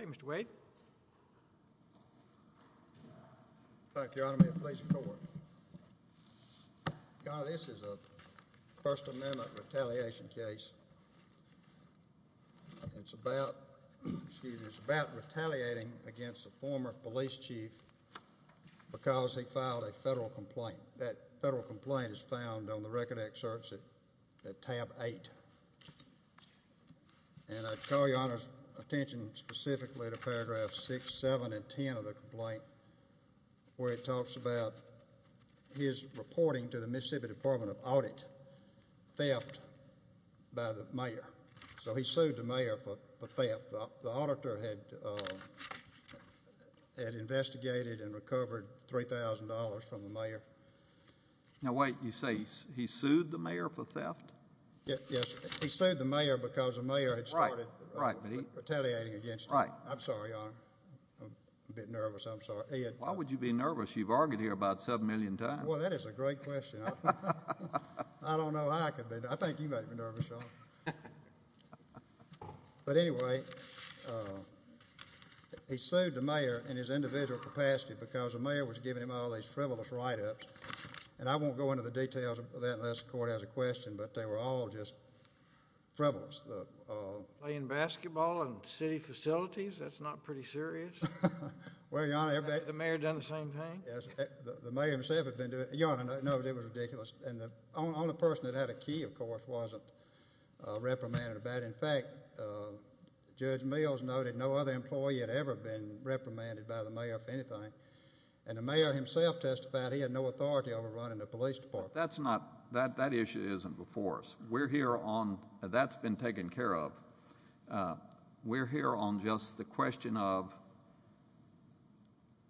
Ok, Mr. Wade. Thank you, Your Honor. May it please the Court. Your Honor, this is a First Amendment retaliation case. It's about, excuse me, it's about retaliating against a former police chief because he filed a federal complaint. That federal complaint is found on the record excerpts at tab 8. And I call Your Honor's attention specifically to paragraphs 6, 7, and 10 of the complaint where it talks about his reporting to the Mississippi Department of Audit theft by the mayor. So he sued the mayor for theft. The auditor had investigated and recovered $3,000 from the mayor. Now, wait. You say he sued the mayor for theft? Yes. He sued the mayor because the mayor had started retaliating against him. I'm sorry, Your Honor. I'm a bit nervous. I'm sorry. Why would you be nervous? You've argued here about 7 million times. Well, that is a great question. I don't know how I could be. I think you make me nervous, Your Honor. But anyway, he sued the mayor in his individual capacity because the mayor was giving him all these frivolous write-ups. And I won't go into the details of that unless the court has a question, but they were all just frivolous. Playing basketball in city facilities? That's not pretty serious. Well, Your Honor, everybody— The mayor done the same thing? Yes. The mayor himself had been doing it. Your Honor, no, it was ridiculous. And the only person that had a key, of course, wasn't reprimanded about it. In fact, Judge Mills noted no other employee had ever been reprimanded by the mayor for anything. And the mayor himself testified he had no authority over running the police department. That's not—that issue isn't before us. We're here on—that's been taken care of. We're here on just the question of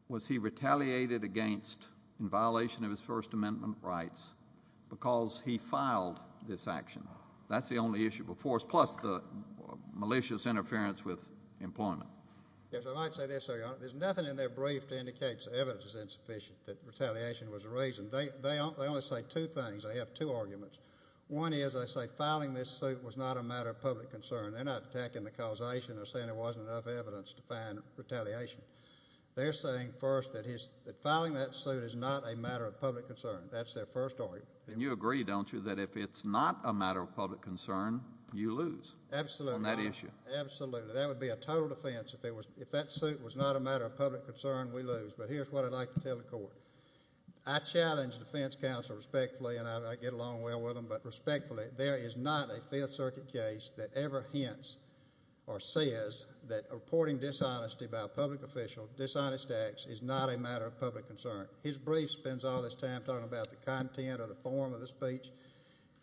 was he retaliated against in violation of his First Amendment rights because he filed this action? That's the only issue before us, plus the malicious interference with employment. Yes, I might say this, Your Honor. There's nothing in their brief to indicate evidence is insufficient that retaliation was a reason. They only say two things. They have two arguments. One is they say filing this suit was not a matter of public concern. They're not attacking the causation. They're saying there wasn't enough evidence to find retaliation. They're saying first that filing that suit is not a matter of public concern. That's their first argument. And you agree, don't you, that if it's not a matter of public concern, you lose on that issue? Absolutely. Absolutely. That would be a total defense. If that suit was not a matter of public concern, we lose. But here's what I'd like to tell the court. I challenge defense counsel respectfully, and I get along well with them, but respectfully, there is not a Fifth Circuit case that ever hints or says that reporting dishonesty by a public official, dishonest acts, is not a matter of public concern. His brief spends all his time talking about the content or the form of the speech.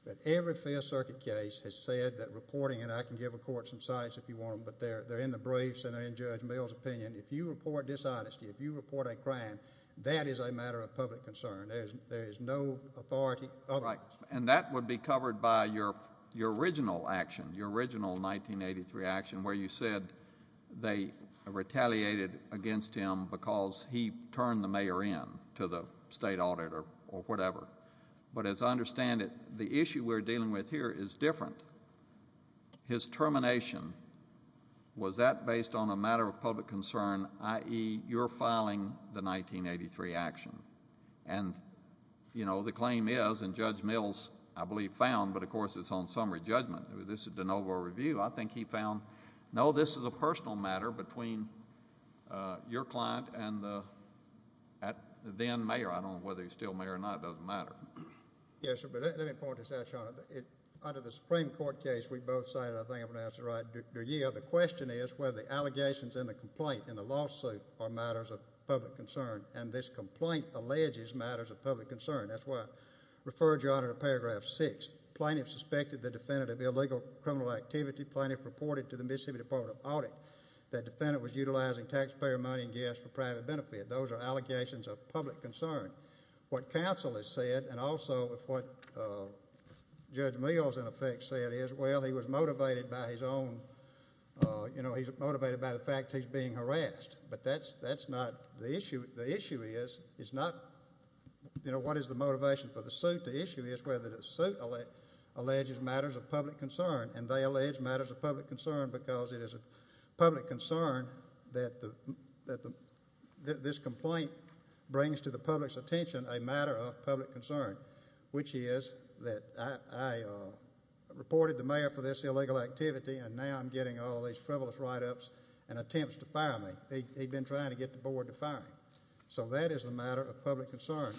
But every Fifth Circuit case has said that reporting it, and I can give the court some sites if you want them, but they're in the briefs and they're in Judge Mill's opinion. If you report dishonesty, if you report a crime, that is a matter of public concern. There is no authority otherwise. And that would be covered by your original action, your original 1983 action, where you said they retaliated against him because he turned the mayor in to the state auditor or whatever. But as I understand it, the issue we're dealing with here is different. His termination, was that based on a matter of public concern, i.e., you're filing the 1983 action? And, you know, the claim is, and Judge Mill's, I believe, found, but of course it's on summary judgment. This is de novo review. I think he found, no, this is a personal matter between your client and the then mayor. I don't know whether he's still mayor or not. It doesn't matter. Yes, sir, but let me point this out, Sean. Under the Supreme Court case we both cited, I think I pronounced it right, the question is whether the allegations in the complaint, in the lawsuit, are matters of public concern. And this complaint alleges matters of public concern. That's why I referred you on to paragraph 6. Plaintiff suspected the defendant of illegal criminal activity. Plaintiff reported to the Mississippi Department of Audit that defendant was utilizing taxpayer money and gas for private benefit. Those are allegations of public concern. What counsel has said and also what Judge Mill has, in effect, said is, well, he was motivated by his own, you know, he's motivated by the fact he's being harassed. But that's not the issue. The issue is not, you know, what is the motivation for the suit. The issue is whether the suit alleges matters of public concern, and they allege matters of public concern because it is a public concern that this complaint brings to the public's attention a matter of public concern, which is that I reported the mayor for this illegal activity and now I'm getting all these frivolous write-ups and attempts to fire me. He'd been trying to get the board to fire him. So that is a matter of public concern.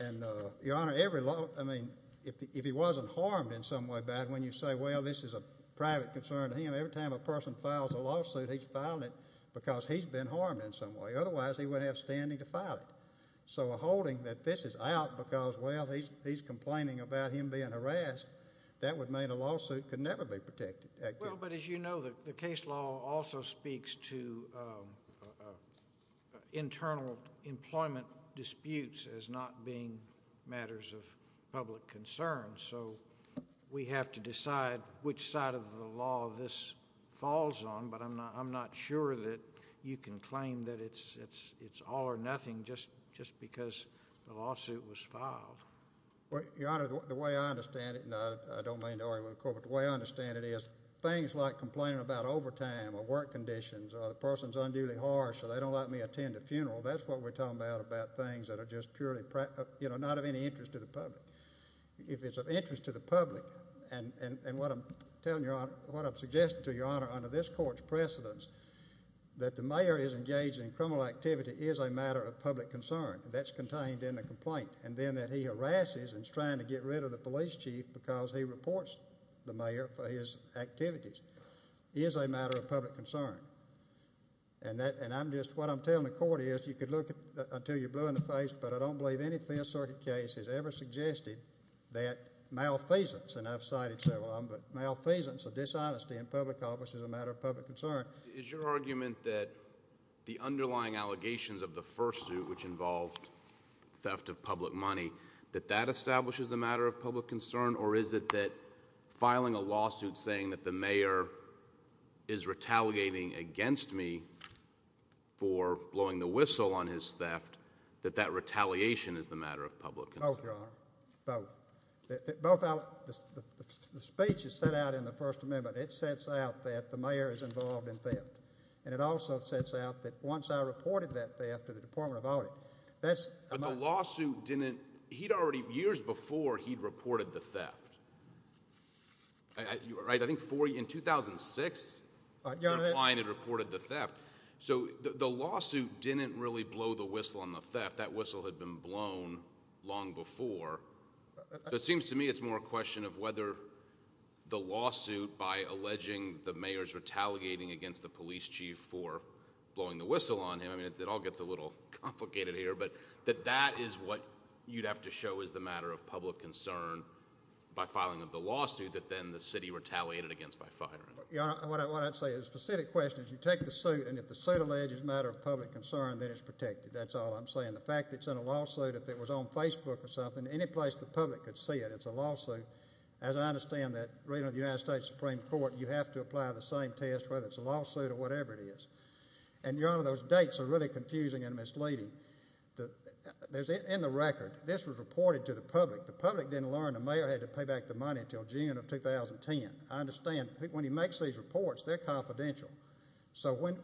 And, Your Honor, every law, I mean, if he wasn't harmed in some way by it, when you say, well, this is a private concern to him, every time a person files a lawsuit he's filing it because he's been harmed in some way. Otherwise he wouldn't have standing to file it. So a holding that this is out because, well, he's complaining about him being harassed, that would mean a lawsuit could never be protected. Well, but as you know, the case law also speaks to internal employment disputes as not being matters of public concern. So we have to decide which side of the law this falls on, but I'm not sure that you can claim that it's all or nothing just because the lawsuit was filed. Well, Your Honor, the way I understand it, and I don't mean to argue with the court, but the way I understand it is things like complaining about overtime or work conditions or the person's unduly harsh or they don't let me attend a funeral, that's what we're talking about about things that are just purely, you know, not of any interest to the public. If it's of interest to the public, and what I'm telling Your Honor, what I'm suggesting to Your Honor under this court's precedence, that the mayor is engaged in criminal activity is a matter of public concern. That's contained in the complaint. And then that he harasses and is trying to get rid of the police chief because he reports the mayor for his activities is a matter of public concern. And I'm just, what I'm telling the court is you could look until you're blue in the face, but I don't believe any Fifth Circuit case has ever suggested that malfeasance, and I've cited several of them, but malfeasance or dishonesty in public office is a matter of public concern. Is your argument that the underlying allegations of the first suit, which involved theft of public money, that that establishes the matter of public concern, or is it that filing a lawsuit saying that the mayor is retaliating against me for blowing the whistle on his theft, that that retaliation is the matter of public concern? Both, Your Honor, both. The speech is set out in the First Amendment. It sets out that the mayor is involved in theft. And it also sets out that once I reported that theft to the Department of Audit, that's my... But the lawsuit didn't, he'd already, years before he'd reported the theft, right? I think in 2006... Your Honor...... he reported the theft. So the lawsuit didn't really blow the whistle on the theft. That whistle had been blown long before. So it seems to me it's more a question of whether the lawsuit, by alleging the mayor's retaliating against the police chief for blowing the whistle on him, I mean, it all gets a little complicated here, but that that is what you'd have to show is the matter of public concern by filing of the lawsuit that then the city retaliated against by firing him. Your Honor, what I'd say is the specific question is you take the suit, and if the suit alleges a matter of public concern, then it's protected. That's all I'm saying. The fact that it's in a lawsuit, if it was on Facebook or something, any place the public could see it, it's a lawsuit. As I understand that, reading of the United States Supreme Court, you have to apply the same test whether it's a lawsuit or whatever it is. And, Your Honor, those dates are really confusing and misleading. There's, in the record, this was reported to the public. The public didn't learn the mayor had to pay back the money until June of 2010. I understand. When he makes these reports, they're confidential. So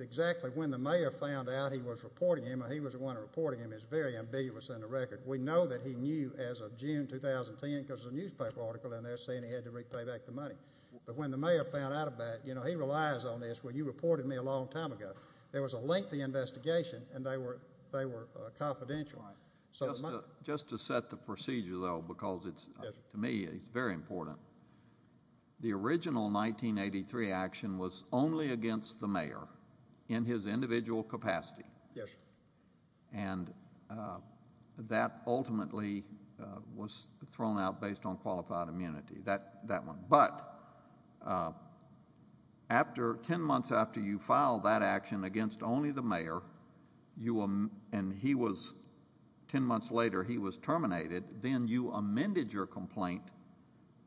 exactly when the mayor found out he was reporting him, and he was the one reporting him, it's very ambiguous in the record. We know that he knew as of June 2010 because there's a newspaper article in there saying he had to repay back the money. But when the mayor found out about it, you know, he relies on this. Well, you reported me a long time ago. There was a lengthy investigation, and they were confidential. Just to set the procedure, though, because to me it's very important, the original 1983 action was only against the mayor in his individual capacity. Yes, sir. And that ultimately was thrown out based on qualified immunity, that one. But 10 months after you filed that action against only the mayor, and 10 months later he was terminated, then you amended your complaint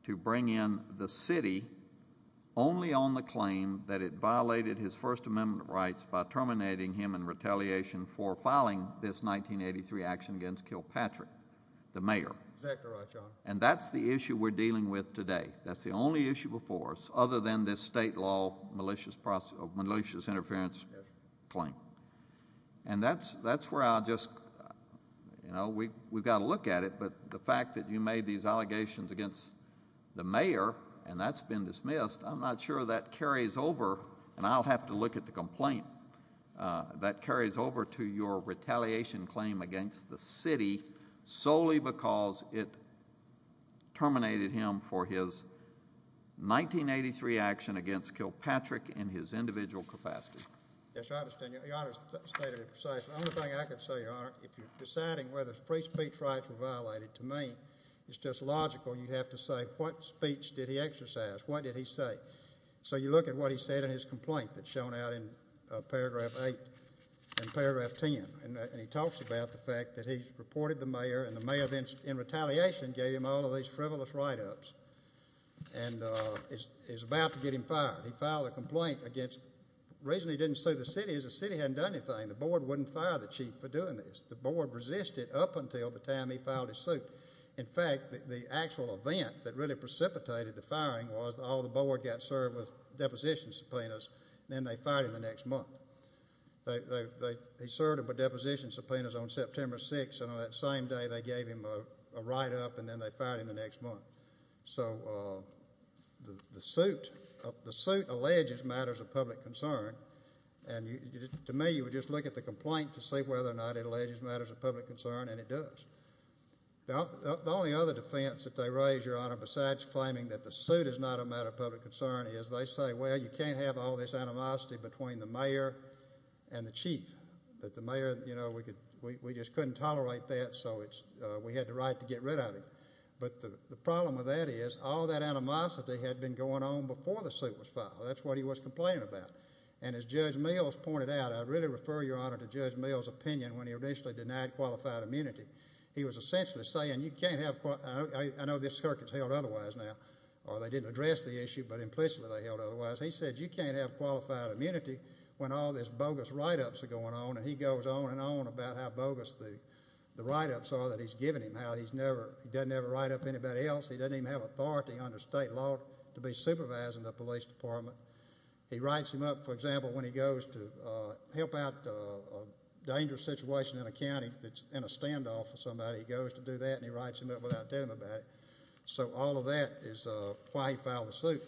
to bring in the city only on the claim that it violated his First Amendment rights by terminating him in retaliation for filing this 1983 action against Kilpatrick, the mayor. Exactly right, Your Honor. And that's the issue we're dealing with today. That's the only issue before us other than this state law malicious interference claim. And that's where I'll just, you know, we've got to look at it, but the fact that you made these allegations against the mayor, and that's been dismissed, I'm not sure that carries over, and I'll have to look at the complaint, that carries over to your retaliation claim against the city solely because it terminated him for his 1983 action against Kilpatrick in his individual capacity. Yes, I understand. Your Honor's stated it precisely. The only thing I can say, Your Honor, if you're deciding whether free speech rights were violated, to me, it's just logical. You have to say what speech did he exercise, what did he say. So you look at what he said in his complaint that's shown out in paragraph 8 and paragraph 10, and he talks about the fact that he reported the mayor, and the mayor then in retaliation gave him all of these frivolous write-ups and is about to get him fired. He filed a complaint against the reason he didn't sue the city is the city hadn't done anything. The board wouldn't fire the chief for doing this. The board resisted up until the time he filed his suit. In fact, the actual event that really precipitated the firing was all the board got served with deposition subpoenas, and then they fired him the next month. They served him with deposition subpoenas on September 6, and on that same day they gave him a write-up, and then they fired him the next month. So the suit alleges matters of public concern, and to me you would just look at the complaint to see whether or not it alleges matters of public concern, and it does. The only other defense that they raise, Your Honor, besides claiming that the suit is not a matter of public concern, is they say, well, you can't have all this animosity between the mayor and the chief, that the mayor, you know, we just couldn't tolerate that, so we had the right to get rid of him. But the problem with that is all that animosity had been going on before the suit was filed. That's what he was complaining about, and as Judge Mills pointed out, I really refer, Your Honor, to Judge Mills' opinion when he initially denied qualified immunity. He was essentially saying, I know this circuit is held otherwise now, or they didn't address the issue, but implicitly they held otherwise. He said you can't have qualified immunity when all this bogus write-ups are going on, and he goes on and on about how bogus the write-ups are that he's given him, how he doesn't ever write up anybody else. He doesn't even have authority under state law to be supervising the police department. He writes him up, for example, when he goes to help out a dangerous situation in a county that's in a standoff with somebody. He goes to do that, and he writes him up without telling him about it. So all of that is why he filed the suit.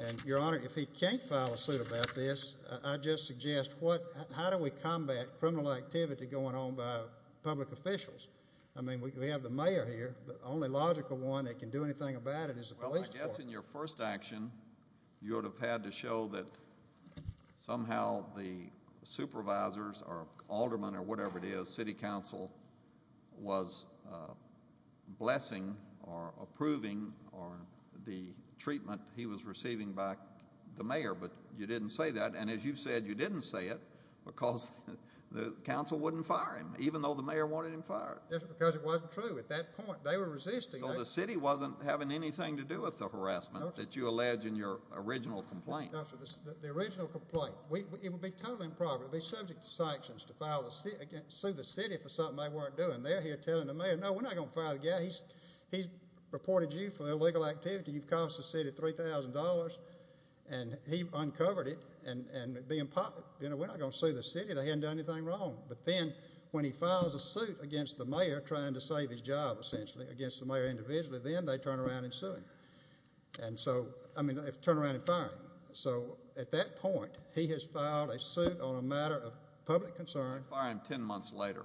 And, Your Honor, if he can't file a suit about this, I just suggest how do we combat criminal activity going on by public officials? I mean we have the mayor here. The only logical one that can do anything about it is the police department. Well, I guess in your first action you would have had to show that somehow the supervisors or aldermen or whatever it is, city council, was blessing or approving the treatment he was receiving by the mayor, but you didn't say that, and as you said, you didn't say it because the council wouldn't fire him, even though the mayor wanted him fired. Yes, because it wasn't true at that point. They were resisting. So the city wasn't having anything to do with the harassment that you allege in your original complaint. The original complaint, it would be totally improper. It would be subject to sanctions to sue the city for something they weren't doing. They're here telling the mayor, no, we're not going to fire the guy. He's reported you for illegal activity. You've cost the city $3,000, and he uncovered it. We're not going to sue the city. They hadn't done anything wrong. But then when he files a suit against the mayor trying to save his job, essentially, against the mayor individually, then they turn around and sue him. And so, I mean, they turn around and fire him. So at that point, he has filed a suit on a matter of public concern. They fire him ten months later.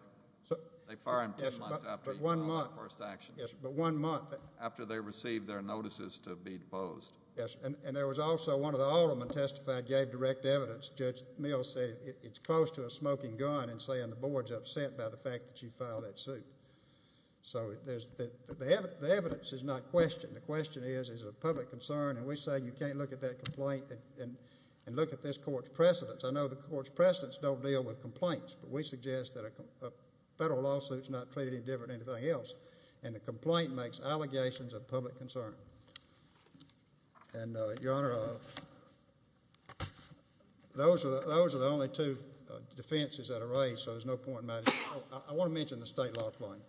They fire him ten months after he filed the first action. Yes, but one month. After they received their notices to be deposed. Yes, and there was also one of the aldermen testified, gave direct evidence. Judge Mills said it's close to a smoking gun and saying the board's upset by the fact that you filed that suit. So the evidence is not questioned. The question is, is it a public concern? And we say you can't look at that complaint and look at this court's precedents. I know the court's precedents don't deal with complaints, but we suggest that a federal lawsuit is not treated any different than anything else. And the complaint makes allegations of public concern. And, Your Honor, those are the only two defenses that are raised, so there's no point in my discussion. I want to mention the state law complaint.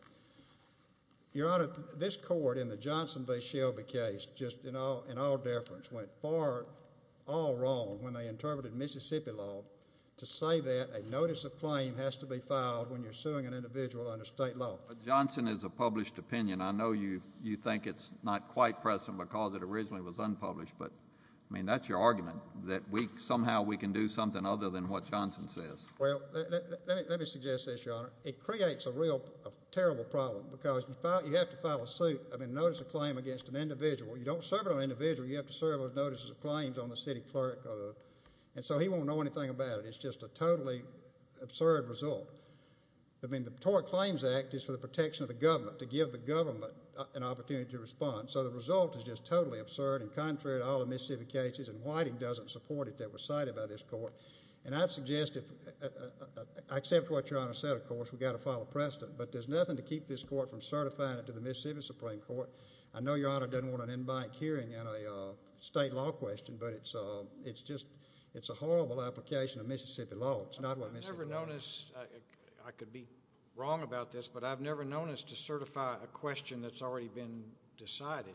Your Honor, this court in the Johnson v. Shelby case, just in all deference, went far all wrong when they interpreted Mississippi law to say that a notice of claim has to be filed when you're suing an individual under state law. But Johnson is a published opinion. I know you think it's not quite present because it originally was unpublished, but, I mean, that's your argument, that somehow we can do something other than what Johnson says. Well, let me suggest this, Your Honor. It creates a real terrible problem because you have to file a suit, I mean, a notice of claim against an individual. You don't serve it on an individual. You have to serve those notices of claims on the city clerk. And so he won't know anything about it. It's just a totally absurd result. I mean, the Tort Claims Act is for the protection of the government, to give the government an opportunity to respond. So the result is just totally absurd and contrary to all the Mississippi cases, and Whiting doesn't support it that was cited by this court. And I've suggested, I accept what Your Honor said, of course, we've got to file a precedent, but there's nothing to keep this court from certifying it to the Mississippi Supreme Court. I know Your Honor doesn't want an in-bank hearing and a state law question, but it's just a horrible application of Mississippi law. It's not what Mississippi does. I've never noticed, I could be wrong about this, but I've never noticed to certify a question that's already been decided.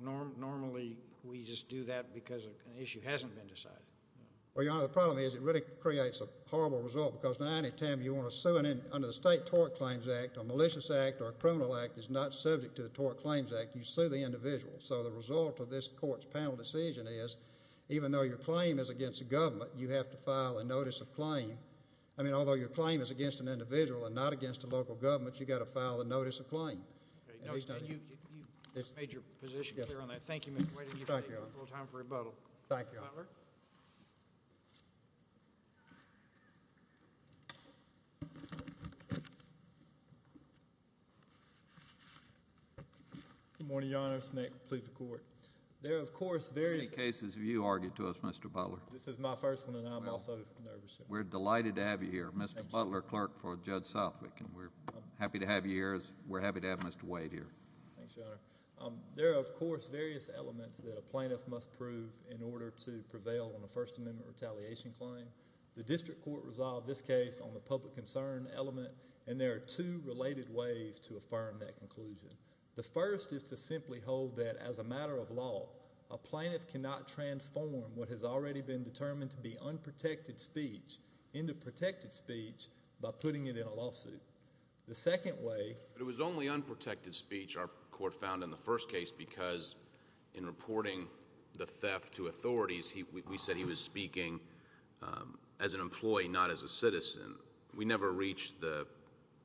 Normally we just do that because an issue hasn't been decided. Well, Your Honor, the problem is it really creates a horrible result because now any time you want to sue under the State Tort Claims Act, a malicious act or a criminal act is not subject to the Tort Claims Act. You sue the individual. So the result of this court's panel decision is even though your claim is against the government, you have to file a notice of claim. I mean, although your claim is against an individual and not against the local government, you've got to file a notice of claim. You've made your position clear on that. Thank you, Mr. Wade. Thank you, Your Honor. A little time for rebuttal. Thank you, Your Honor. Good morning, Your Honor. This is Nick with the police and court. There, of course, there is... How many cases have you argued to us, Mr. Butler? This is my first one and I'm also nervous. We're delighted to have you here, Mr. Butler, clerk for Judge Southwick, and we're happy to have you here as we're happy to have Mr. Wade here. Thanks, Your Honor. There are, of course, various elements that a plaintiff must prove in order to prevail on a First Amendment retaliation claim. The district court resolved this case on the public concern element, and there are two related ways to affirm that conclusion. The first is to simply hold that as a matter of law, a plaintiff cannot transform what has already been determined to be unprotected speech into protected speech by putting it in a lawsuit. The second way... But it was only unprotected speech our court found in the first case because in reporting the theft to authorities, we said he was speaking as an employee, not as a citizen. We never reached the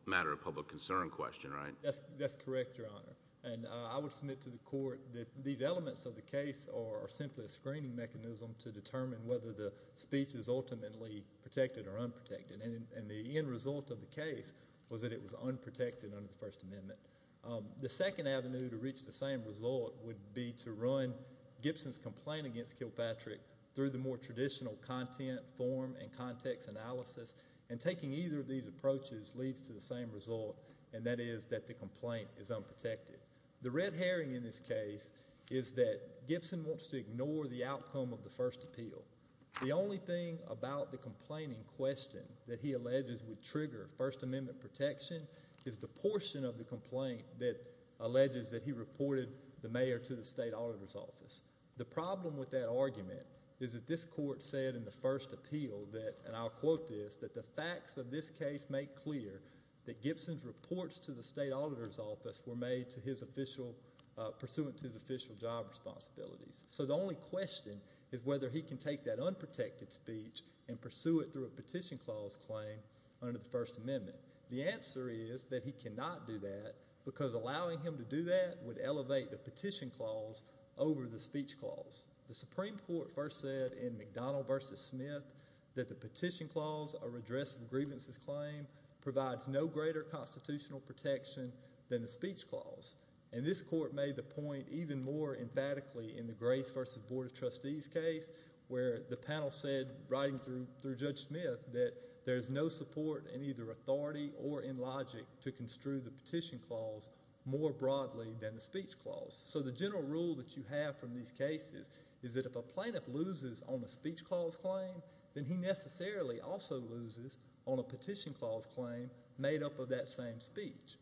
matter of public concern question, right? That's correct, Your Honor, and I would submit to the court that these elements of the case are simply a screening mechanism to determine whether the speech is ultimately protected or unprotected, and the end result of the case was that it was unprotected under the First Amendment. The second avenue to reach the same result would be to run Gibson's complaint against Kilpatrick through the more traditional content, form, and context analysis, and taking either of these approaches leads to the same result, and that is that the complaint is unprotected. The red herring in this case is that Gibson wants to ignore the outcome of the first appeal. The only thing about the complaint in question that he alleges would trigger First Amendment protection is the portion of the complaint that alleges that he reported the mayor to the state auditor's office. The problem with that argument is that this court said in the first appeal that, and I'll quote this, that the facts of this case make clear that Gibson's reports to the state auditor's office were made pursuant to his official job responsibilities. So the only question is whether he can take that unprotected speech and pursue it through a petition clause claim under the First Amendment. The answer is that he cannot do that because allowing him to do that would elevate the petition clause over the speech clause. The Supreme Court first said in McDonald v. Smith that the petition clause or redress of grievances claim provides no greater constitutional protection than the speech clause, and this court made the point even more emphatically in the Grace v. Board of Trustees case where the panel said, writing through Judge Smith, that there is no support in either authority or in logic to construe the petition clause more broadly than the speech clause. So the general rule that you have from these cases is that if a plaintiff loses on the speech clause claim, then he necessarily also loses on a petition clause claim made up of that same speech.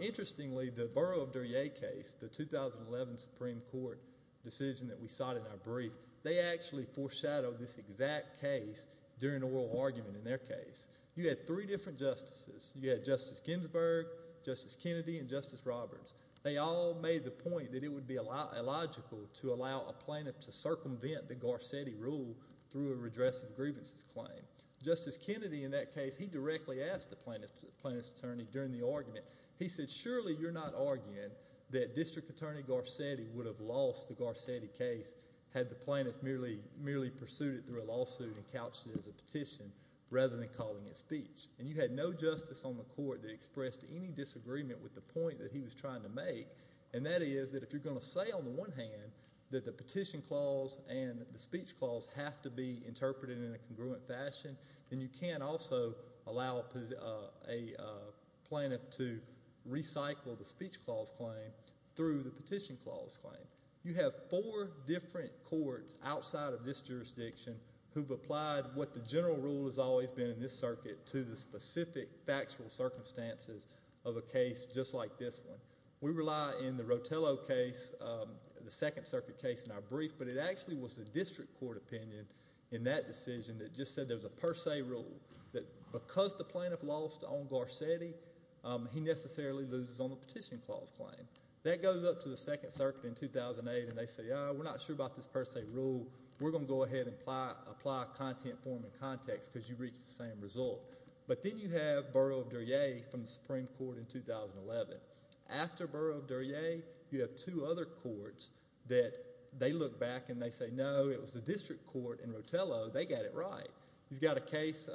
Interestingly, the Borough of Duryea case, the 2011 Supreme Court decision that we sought in our brief, they actually foreshadowed this exact case during the oral argument in their case. You had three different justices. You had Justice Ginsburg, Justice Kennedy, and Justice Roberts. They all made the point that it would be illogical to allow a plaintiff to circumvent the Garcetti rule through a redress of grievances claim. Justice Kennedy in that case, he directly asked the plaintiff's attorney during the argument, he said, surely you're not arguing that District Attorney Garcetti would have lost the Garcetti case had the plaintiff merely pursued it through a lawsuit and couched it as a petition rather than calling it speech. And you had no justice on the court that expressed any disagreement with the point that he was trying to make, and that is that if you're going to say on the one hand that the petition clause and the speech clause have to be interpreted in a congruent fashion, then you can't also allow a plaintiff to recycle the speech clause claim through the petition clause claim. You have four different courts outside of this jurisdiction who've applied what the general rule has always been in this circuit to the specific factual circumstances of a case just like this one. We rely in the Rotello case, the Second Circuit case in our brief, but it actually was the District Court opinion in that decision that just said there's a per se rule that because the plaintiff lost on Garcetti, he necessarily loses on the petition clause claim. That goes up to the Second Circuit in 2008, and they say, oh, we're not sure about this per se rule. We're going to go ahead and apply a content form in context because you've reached the same result. But then you have Borough of Duryea from the Supreme Court in 2011. After Borough of Duryea, you have two other courts that they look back and they say, no, it was the District Court in Rotello. They got it right. You've got a case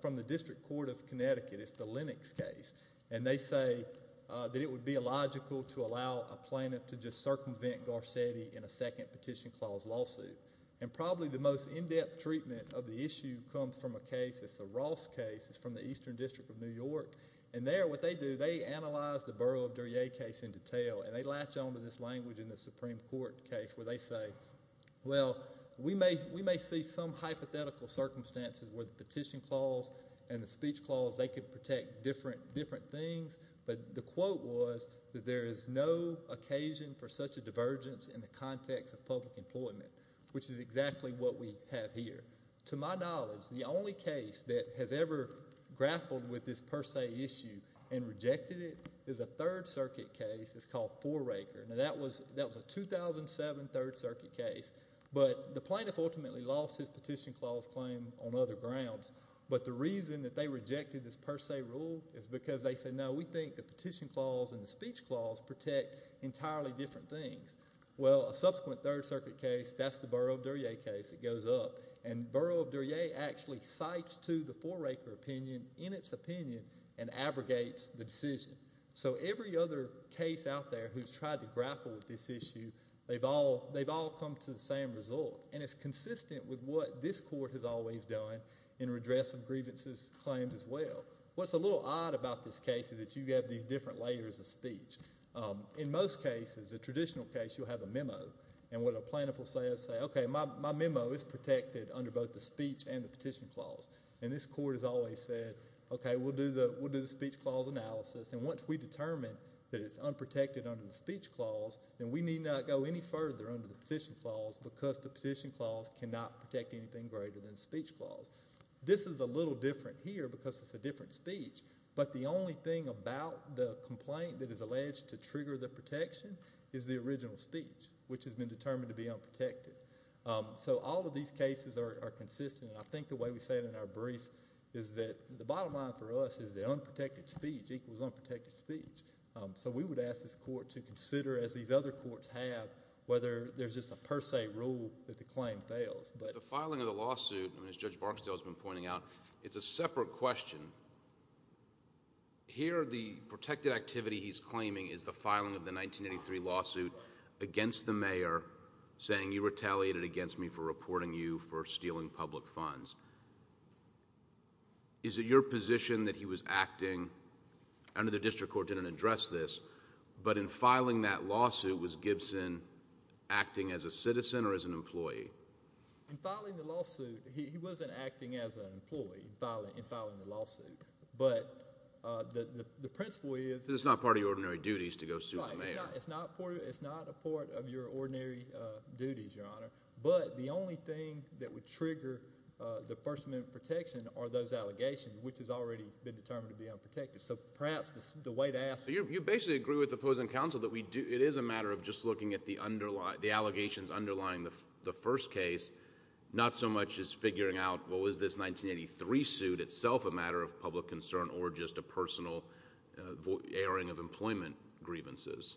from the District Court of Connecticut. It's the Lennox case, and they say that it would be illogical to allow a plaintiff to just circumvent Garcetti in a second petition clause lawsuit. And probably the most in-depth treatment of the issue comes from a case. It's a Ross case. It's from the Eastern District of New York. And there, what they do, they analyze the Borough of Duryea case in detail, and they latch onto this language in the Supreme Court case where they say, well, we may see some hypothetical circumstances where the petition clause and the speech clause, they could protect different things, but the quote was that there is no occasion for such a divergence in the context of public employment. Which is exactly what we have here. To my knowledge, the only case that has ever grappled with this per se issue and rejected it is a Third Circuit case. It's called Foreraker. Now, that was a 2007 Third Circuit case, but the plaintiff ultimately lost his petition clause claim on other grounds. But the reason that they rejected this per se rule is because they said, no, we think the petition clause and the speech clause protect entirely different things. Well, a subsequent Third Circuit case, that's the Borough of Duryea case that goes up. And Borough of Duryea actually cites to the Foreraker opinion in its opinion and abrogates the decision. So every other case out there who's tried to grapple with this issue, they've all come to the same result. And it's consistent with what this court has always done in redress of grievances claims as well. What's a little odd about this case is that you have these different layers of speech. In most cases, the traditional case, you'll have a memo. And what a plaintiff will say is say, okay, my memo is protected under both the speech and the petition clause. And this court has always said, okay, we'll do the speech clause analysis. And once we determine that it's unprotected under the speech clause, then we need not go any further under the petition clause because the petition clause cannot protect anything greater than the speech clause. This is a little different here because it's a different speech. But the only thing about the complaint that is alleged to trigger the protection is the original speech, which has been determined to be unprotected. So all of these cases are consistent. I think the way we say it in our brief is that the bottom line for us is the unprotected speech equals unprotected speech. So we would ask this court to consider, as these other courts have, whether there's just a per se rule that the claim fails. The filing of the lawsuit, as Judge Barksdale has been pointing out, it's a separate question. Here, the protected activity he's claiming is the filing of the 1983 lawsuit against the mayor, saying you retaliated against me for reporting you for stealing public funds. Is it your position that he was acting, under the district court didn't address this, but in filing that lawsuit, was Gibson acting as a citizen or as an employee? In filing the lawsuit, he wasn't acting as an employee in filing the lawsuit. But the principle is— So it's not part of your ordinary duties to go sue the mayor. It's not a part of your ordinary duties, Your Honor. But the only thing that would trigger the First Amendment protection are those allegations, which has already been determined to be unprotected. So perhaps the way to ask— So you basically agree with the opposing counsel that it is a matter of just looking at the allegations underlying the first case, not so much as figuring out, well, is this 1983 suit itself a matter of public concern or just a personal airing of employment grievances?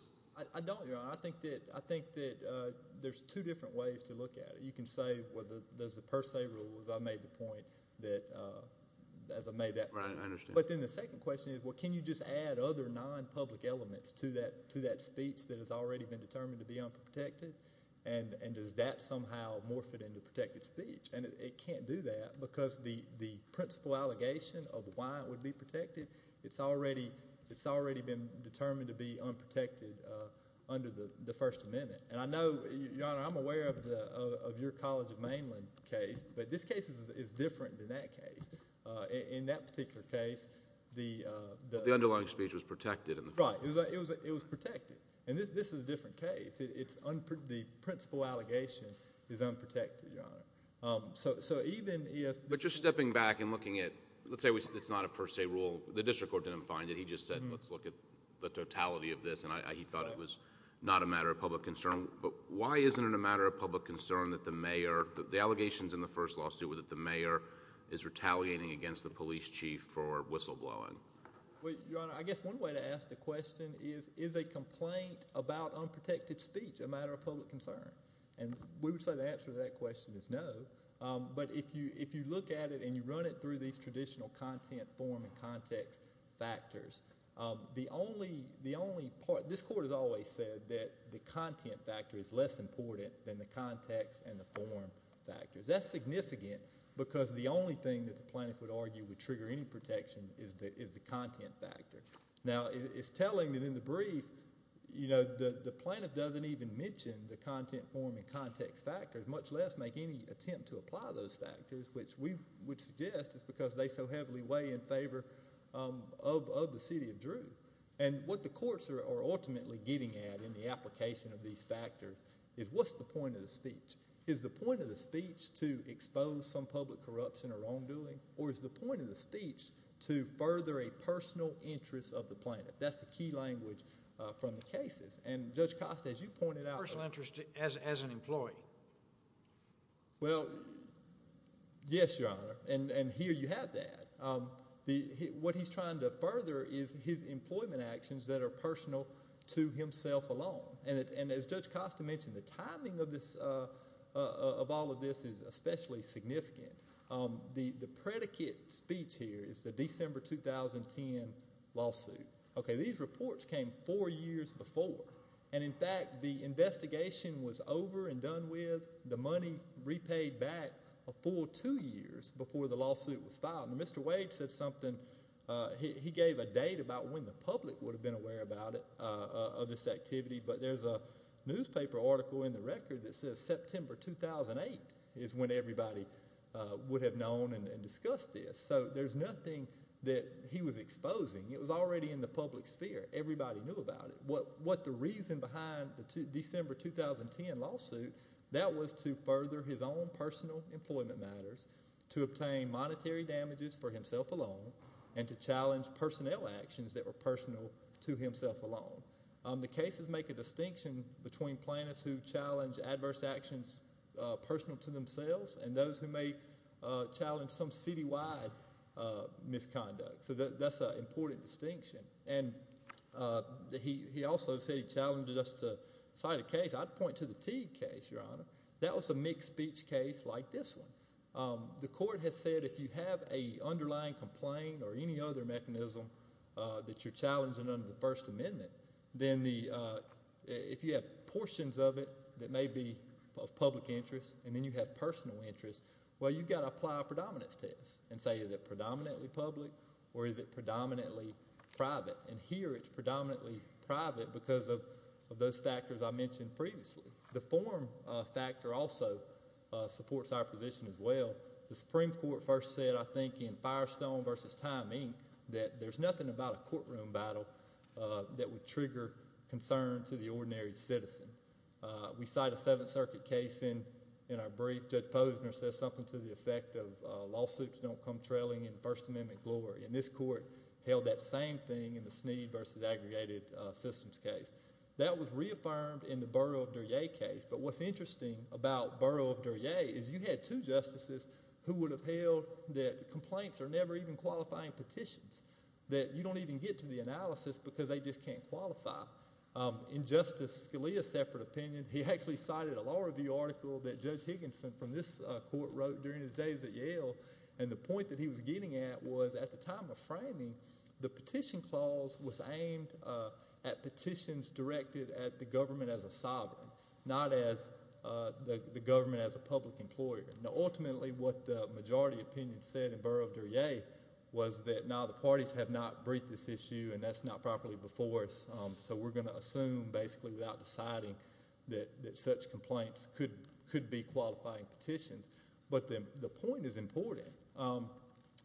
I don't, Your Honor. I think that there's two different ways to look at it. You can say, well, there's a per se rule, as I made the point that—as I made that point. Right, I understand. But then the second question is, well, can you just add other non-public elements to that speech that has already been determined to be unprotected? And does that somehow morph it into protected speech? And it can't do that because the principal allegation of why it would be protected, it's already been determined to be unprotected under the First Amendment. And I know, Your Honor, I'm aware of your College of Mainland case, but this case is different than that case. In that particular case, the— But the underlying speech was protected. Right. It was protected. And this is a different case. The principal allegation is unprotected, Your Honor. So even if— But just stepping back and looking at—let's say it's not a per se rule. The district court didn't find it. He just said, let's look at the totality of this. And he thought it was not a matter of public concern. But why isn't it a matter of public concern that the mayor— Why isn't he advocating against the police chief for whistleblowing? Well, Your Honor, I guess one way to ask the question is, is a complaint about unprotected speech a matter of public concern? And we would say the answer to that question is no. But if you look at it and you run it through these traditional content, form, and context factors, the only part—this court has always said that the content factor is less important than the context and the form factors. That's significant because the only thing that the plaintiff would argue would trigger any protection is the content factor. Now, it's telling that in the brief the plaintiff doesn't even mention the content form and context factors, much less make any attempt to apply those factors, which we would suggest is because they so heavily weigh in favor of the city of Drew. And what the courts are ultimately getting at in the application of these factors is what's the point of the speech? Is the point of the speech to expose some public corruption or wrongdoing, or is the point of the speech to further a personal interest of the plaintiff? That's the key language from the cases. And Judge Costa, as you pointed out— Personal interest as an employee. Well, yes, Your Honor, and here you have that. What he's trying to further is his employment actions that are personal to himself alone. And as Judge Costa mentioned, the timing of all of this is especially significant. The predicate speech here is the December 2010 lawsuit. Okay, these reports came four years before. And, in fact, the investigation was over and done with. The money repaid back a full two years before the lawsuit was filed. And Mr. Wade said something. He gave a date about when the public would have been aware about it, of this activity. But there's a newspaper article in the record that says September 2008 is when everybody would have known and discussed this. So there's nothing that he was exposing. It was already in the public sphere. Everybody knew about it. What the reason behind the December 2010 lawsuit, that was to further his own personal employment matters, to obtain monetary damages for himself alone, and to challenge personnel actions that were personal to himself alone. The cases make a distinction between plaintiffs who challenge adverse actions personal to themselves and those who may challenge some citywide misconduct. So that's an important distinction. And he also said he challenged us to cite a case. I'd point to the Teague case, Your Honor. That was a mixed speech case like this one. The court has said if you have an underlying complaint or any other mechanism that you're challenging under the First Amendment, then if you have portions of it that may be of public interest and then you have personal interest, well, you've got to apply a predominance test and say is it predominantly public or is it predominantly private? And here it's predominantly private because of those factors I mentioned previously. The form factor also supports our position as well. The Supreme Court first said, I think, in Firestone v. Time, Inc., that there's nothing about a courtroom battle that would trigger concern to the ordinary citizen. We cite a Seventh Circuit case in our brief. Judge Posner says something to the effect of lawsuits don't come trailing in First Amendment glory. And this court held that same thing in the Snead v. Aggregated Systems case. That was reaffirmed in the Borough of Duryea case. But what's interesting about Borough of Duryea is you had two justices who would have held that complaints are never even qualifying petitions, that you don't even get to the analysis because they just can't qualify. In Justice Scalia's separate opinion, he actually cited a law review article that Judge Higginson from this court wrote during his days at Yale. And the point that he was getting at was at the time of framing, the petition clause was aimed at petitions directed at the government as a sovereign, not as the government as a public employer. Now, ultimately, what the majority opinion said in Borough of Duryea was that, no, the parties have not briefed this issue and that's not properly before us. So we're going to assume basically without deciding that such complaints could be qualifying petitions. But the point is important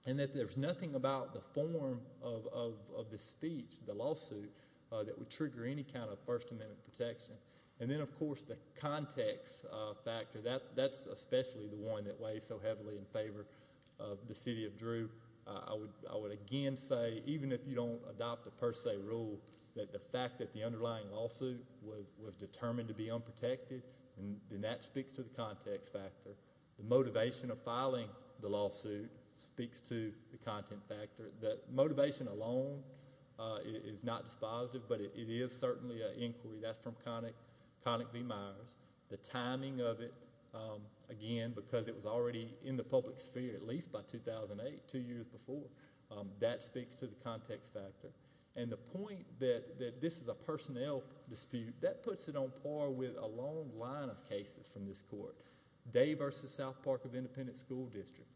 in that there's nothing about the form of the speech, the lawsuit, that would trigger any kind of First Amendment protection. And then, of course, the context factor, that's especially the one that weighs so heavily in favor of the city of Drew. I would again say, even if you don't adopt the per se rule, that the fact that the underlying lawsuit was determined to be unprotected, then that speaks to the context factor. The motivation of filing the lawsuit speaks to the content factor. The motivation alone is not dispositive, but it is certainly an inquiry. That's from Connick v. Myers. The timing of it, again, because it was already in the public sphere at least by 2008, two years before, that speaks to the context factor. And the point that this is a personnel dispute, that puts it on par with a long line of cases from this court. Day v. South Park of Independent School District,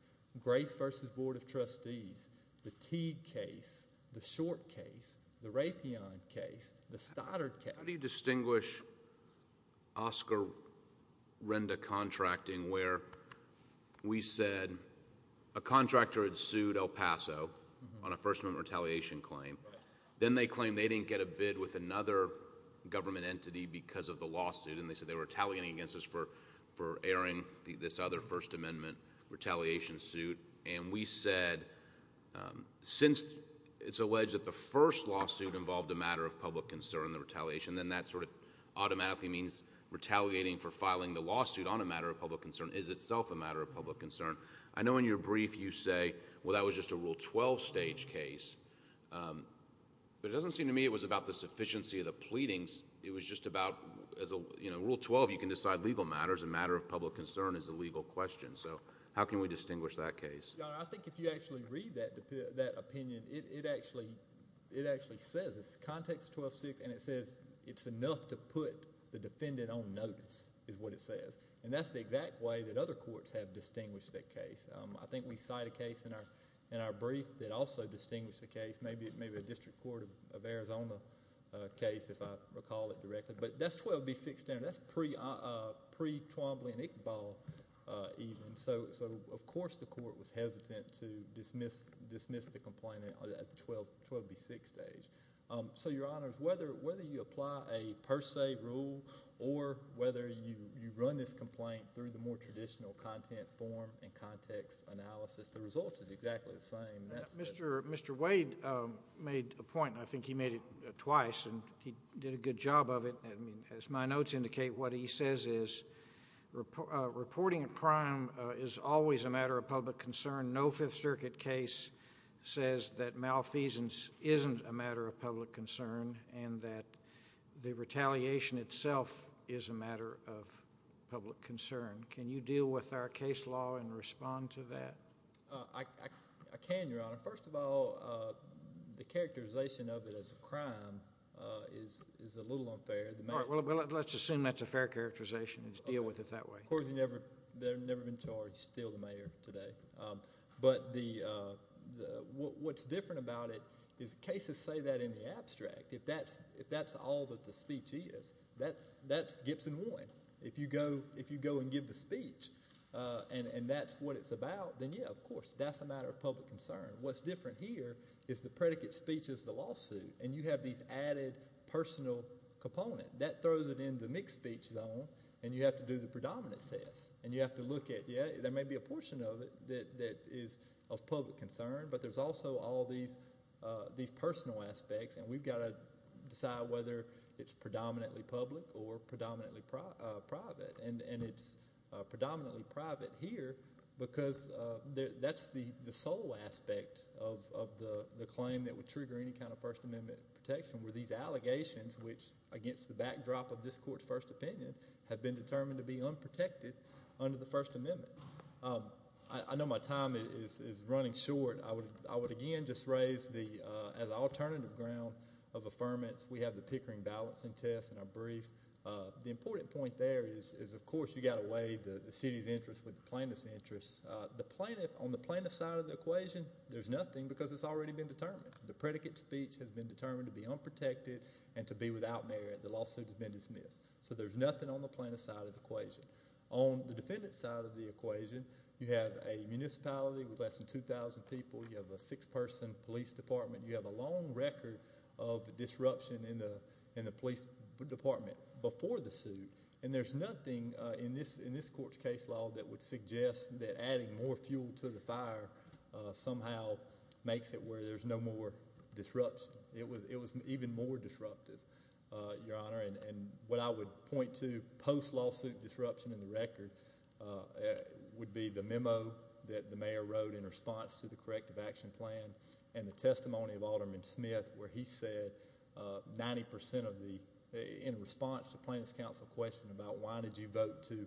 Grace v. Board of Trustees, the Teague case, the Short case, the Raytheon case, the Stoddard case. How do you distinguish Oscar Renda contracting, where we said a contractor had sued El Paso on a First Amendment retaliation claim. Then they claimed they didn't get a bid with another government entity because of the lawsuit, and they said they were retaliating against us for airing this other First Amendment retaliation suit. And we said, since it's alleged that the first lawsuit involved a matter of public concern, the retaliation, then that sort of automatically means retaliating for filing the lawsuit on a matter of public concern is itself a matter of public concern. I know in your brief you say, well, that was just a Rule 12 stage case. But it doesn't seem to me it was about the sufficiency of the pleadings. It was just about, as a Rule 12, you can decide legal matters. A matter of public concern is a legal question. So how can we distinguish that case? Your Honor, I think if you actually read that opinion, it actually says, it's Context 12-6, and it says it's enough to put the defendant on notice is what it says. And that's the exact way that other courts have distinguished that case. I think we cite a case in our brief that also distinguished the case. Maybe a District Court of Arizona case, if I recall it directly. But that's 12-B-6 standard. That's pre-Twombly and Iqbal even. So, of course, the court was hesitant to dismiss the complaint at the 12-B-6 stage. So, Your Honors, whether you apply a per se rule or whether you run this complaint through the more traditional content form and context analysis, the result is exactly the same. Mr. Wade made a point, and I think he made it twice, and he did a good job of it. As my notes indicate, what he says is reporting a crime is always a matter of public concern. No Fifth Circuit case says that malfeasance isn't a matter of public concern and that the retaliation itself is a matter of public concern. Can you deal with our case law and respond to that? I can, Your Honor. First of all, the characterization of it as a crime is a little unfair. All right. Well, let's assume that's a fair characterization and just deal with it that way. Of course, they've never been charged, still, the mayor today. But what's different about it is cases say that in the abstract. If that's all that the speech is, that's Gibson 1. If you go and give the speech and that's what it's about, then, yeah, of course, that's a matter of public concern. What's different here is the predicate speech is the lawsuit, and you have these added personal components. That throws it in the mixed speech zone, and you have to do the predominance test, and you have to look at, yeah, there may be a portion of it that is of public concern, but there's also all these personal aspects, and we've got to decide whether it's predominantly public or predominantly private, and it's predominantly private here because that's the sole aspect of the claim that would trigger any kind of First Amendment protection were these allegations which, against the backdrop of this court's first opinion, have been determined to be unprotected under the First Amendment. I know my time is running short. I would, again, just raise the alternative ground of affirmance. We have the Pickering balancing test in our brief. The important point there is, of course, you've got to weigh the city's interest with the plaintiff's interest. On the plaintiff's side of the equation, there's nothing because it's already been determined. The predicate speech has been determined to be unprotected and to be without merit. The lawsuit has been dismissed, so there's nothing on the plaintiff's side of the equation. On the defendant's side of the equation, you have a municipality with less than 2,000 people. You have a six-person police department. You have a long record of disruption in the police department before the suit, and there's nothing in this court's case law that would suggest that adding more fuel to the fire somehow makes it where there's no more disruption. It was even more disruptive, Your Honor, and what I would point to post-lawsuit disruption in the record would be the memo that the mayor wrote in response to the corrective action plan and the testimony of Alderman Smith where he said 90% of the—in response to the plaintiff's counsel question about why did you vote to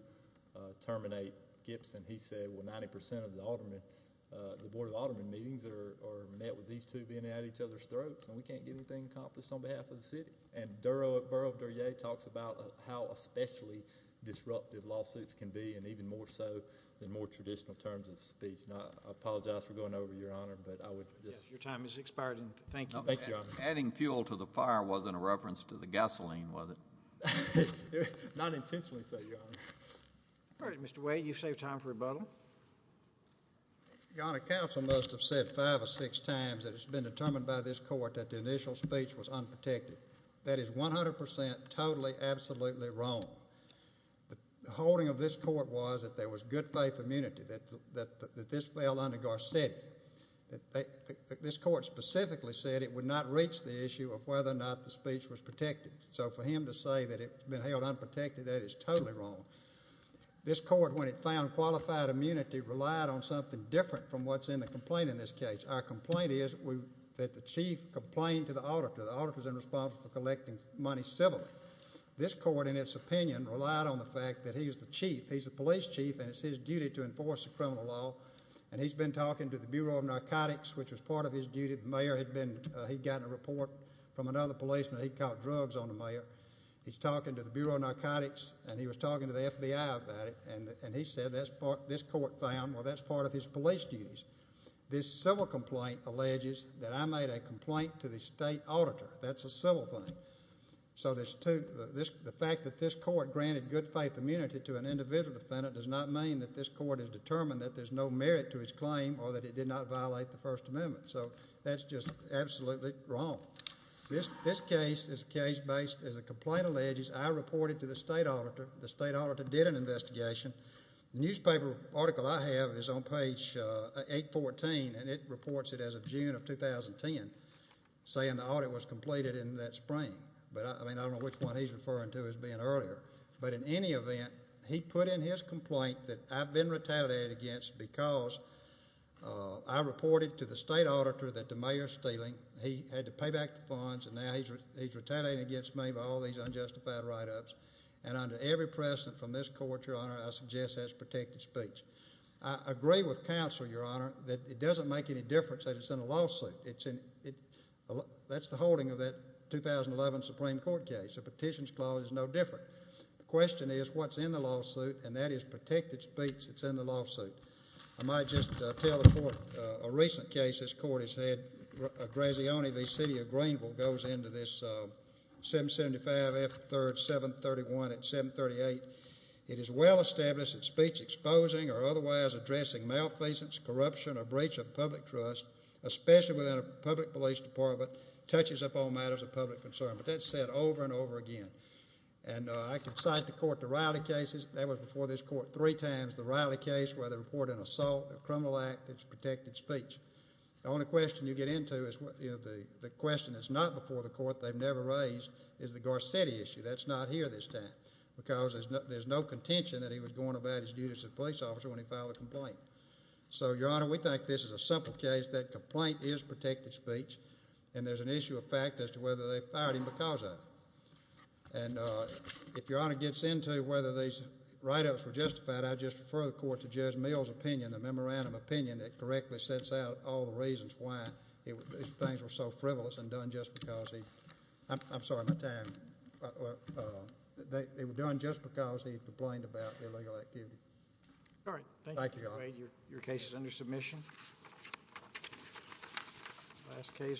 terminate Gibson, he said, well, 90% of the board of aldermen meetings are met with these two being at each other's throats, and we can't get anything accomplished on behalf of the city. And Borough of Duryea talks about how especially disruptive lawsuits can be, and even more so than more traditional terms of speech. And I apologize for going over, Your Honor, but I would just— Yes, your time has expired, and thank you. Thank you, Your Honor. Adding fuel to the fire wasn't a reference to the gasoline, was it? Not intentionally so, Your Honor. All right, Mr. Wade, you've saved time for rebuttal. Your Honor, counsel must have said five or six times that it's been determined by this court that the initial speech was unprotected. That is 100% totally, absolutely wrong. The holding of this court was that there was good faith immunity, that this fell under Garcetti. This court specifically said it would not reach the issue of whether or not the speech was protected. So for him to say that it's been held unprotected, that is totally wrong. This court, when it found qualified immunity, relied on something different from what's in the complaint in this case. Our complaint is that the chief complained to the auditor. The auditor's in responsibility for collecting money civilly. This court, in its opinion, relied on the fact that he's the chief. He's the police chief, and it's his duty to enforce the criminal law. And he's been talking to the Bureau of Narcotics, which was part of his duty. The mayor had been—he'd gotten a report from another policeman. He'd caught drugs on the mayor. He's talking to the Bureau of Narcotics, and he was talking to the FBI about it, and he said this court found, well, that's part of his police duties. This civil complaint alleges that I made a complaint to the state auditor. That's a civil thing. So the fact that this court granted good faith immunity to an individual defendant does not mean that this court has determined that there's no merit to its claim or that it did not violate the First Amendment. So that's just absolutely wrong. This case is case-based. As the complaint alleges, I reported to the state auditor. The state auditor did an investigation. The newspaper article I have is on page 814, and it reports it as of June of 2010 saying the audit was completed in that spring. But, I mean, I don't know which one he's referring to as being earlier. But in any event, he put in his complaint that I've been retaliated against because I reported to the state auditor that the mayor's stealing. He had to pay back the funds, and now he's retaliated against me by all these unjustified write-ups. And under every precedent from this court, Your Honor, I suggest that's protected speech. I agree with counsel, Your Honor, that it doesn't make any difference that it's in a lawsuit. That's the holding of that 2011 Supreme Court case. A petitions clause is no different. The question is what's in the lawsuit, and that is protected speech that's in the lawsuit. I might just tell the court a recent case this court has had. Grazioni v. City of Greenville goes into this 775 F. 3rd 731 at 738. It is well established that speech exposing or otherwise addressing malfeasance, corruption, or breach of public trust, especially within a public police department, touches up all matters of public concern. But that's said over and over again. And I can cite to court the Riley cases. That was before this court three times, the Riley case where they reported an assault, a criminal act that's protected speech. The only question you get into is the question that's not before the court, they've never raised, is the Garcetti issue. That's not here this time because there's no contention that he was going about his duties as a police officer when he filed a complaint. So, Your Honor, we think this is a simple case that complaint is protected speech, and there's an issue of fact as to whether they fired him because of it. And if Your Honor gets into whether these write-ups were justified, I'd just refer the court to Judge Mill's opinion, the memorandum opinion, that correctly sets out all the reasons why these things were so frivolous and done just because he, I'm sorry, my time, they were done just because he complained about illegal activity. All right. Thank you. Thank you, Your Honor. Your case is under submission. Last case for today.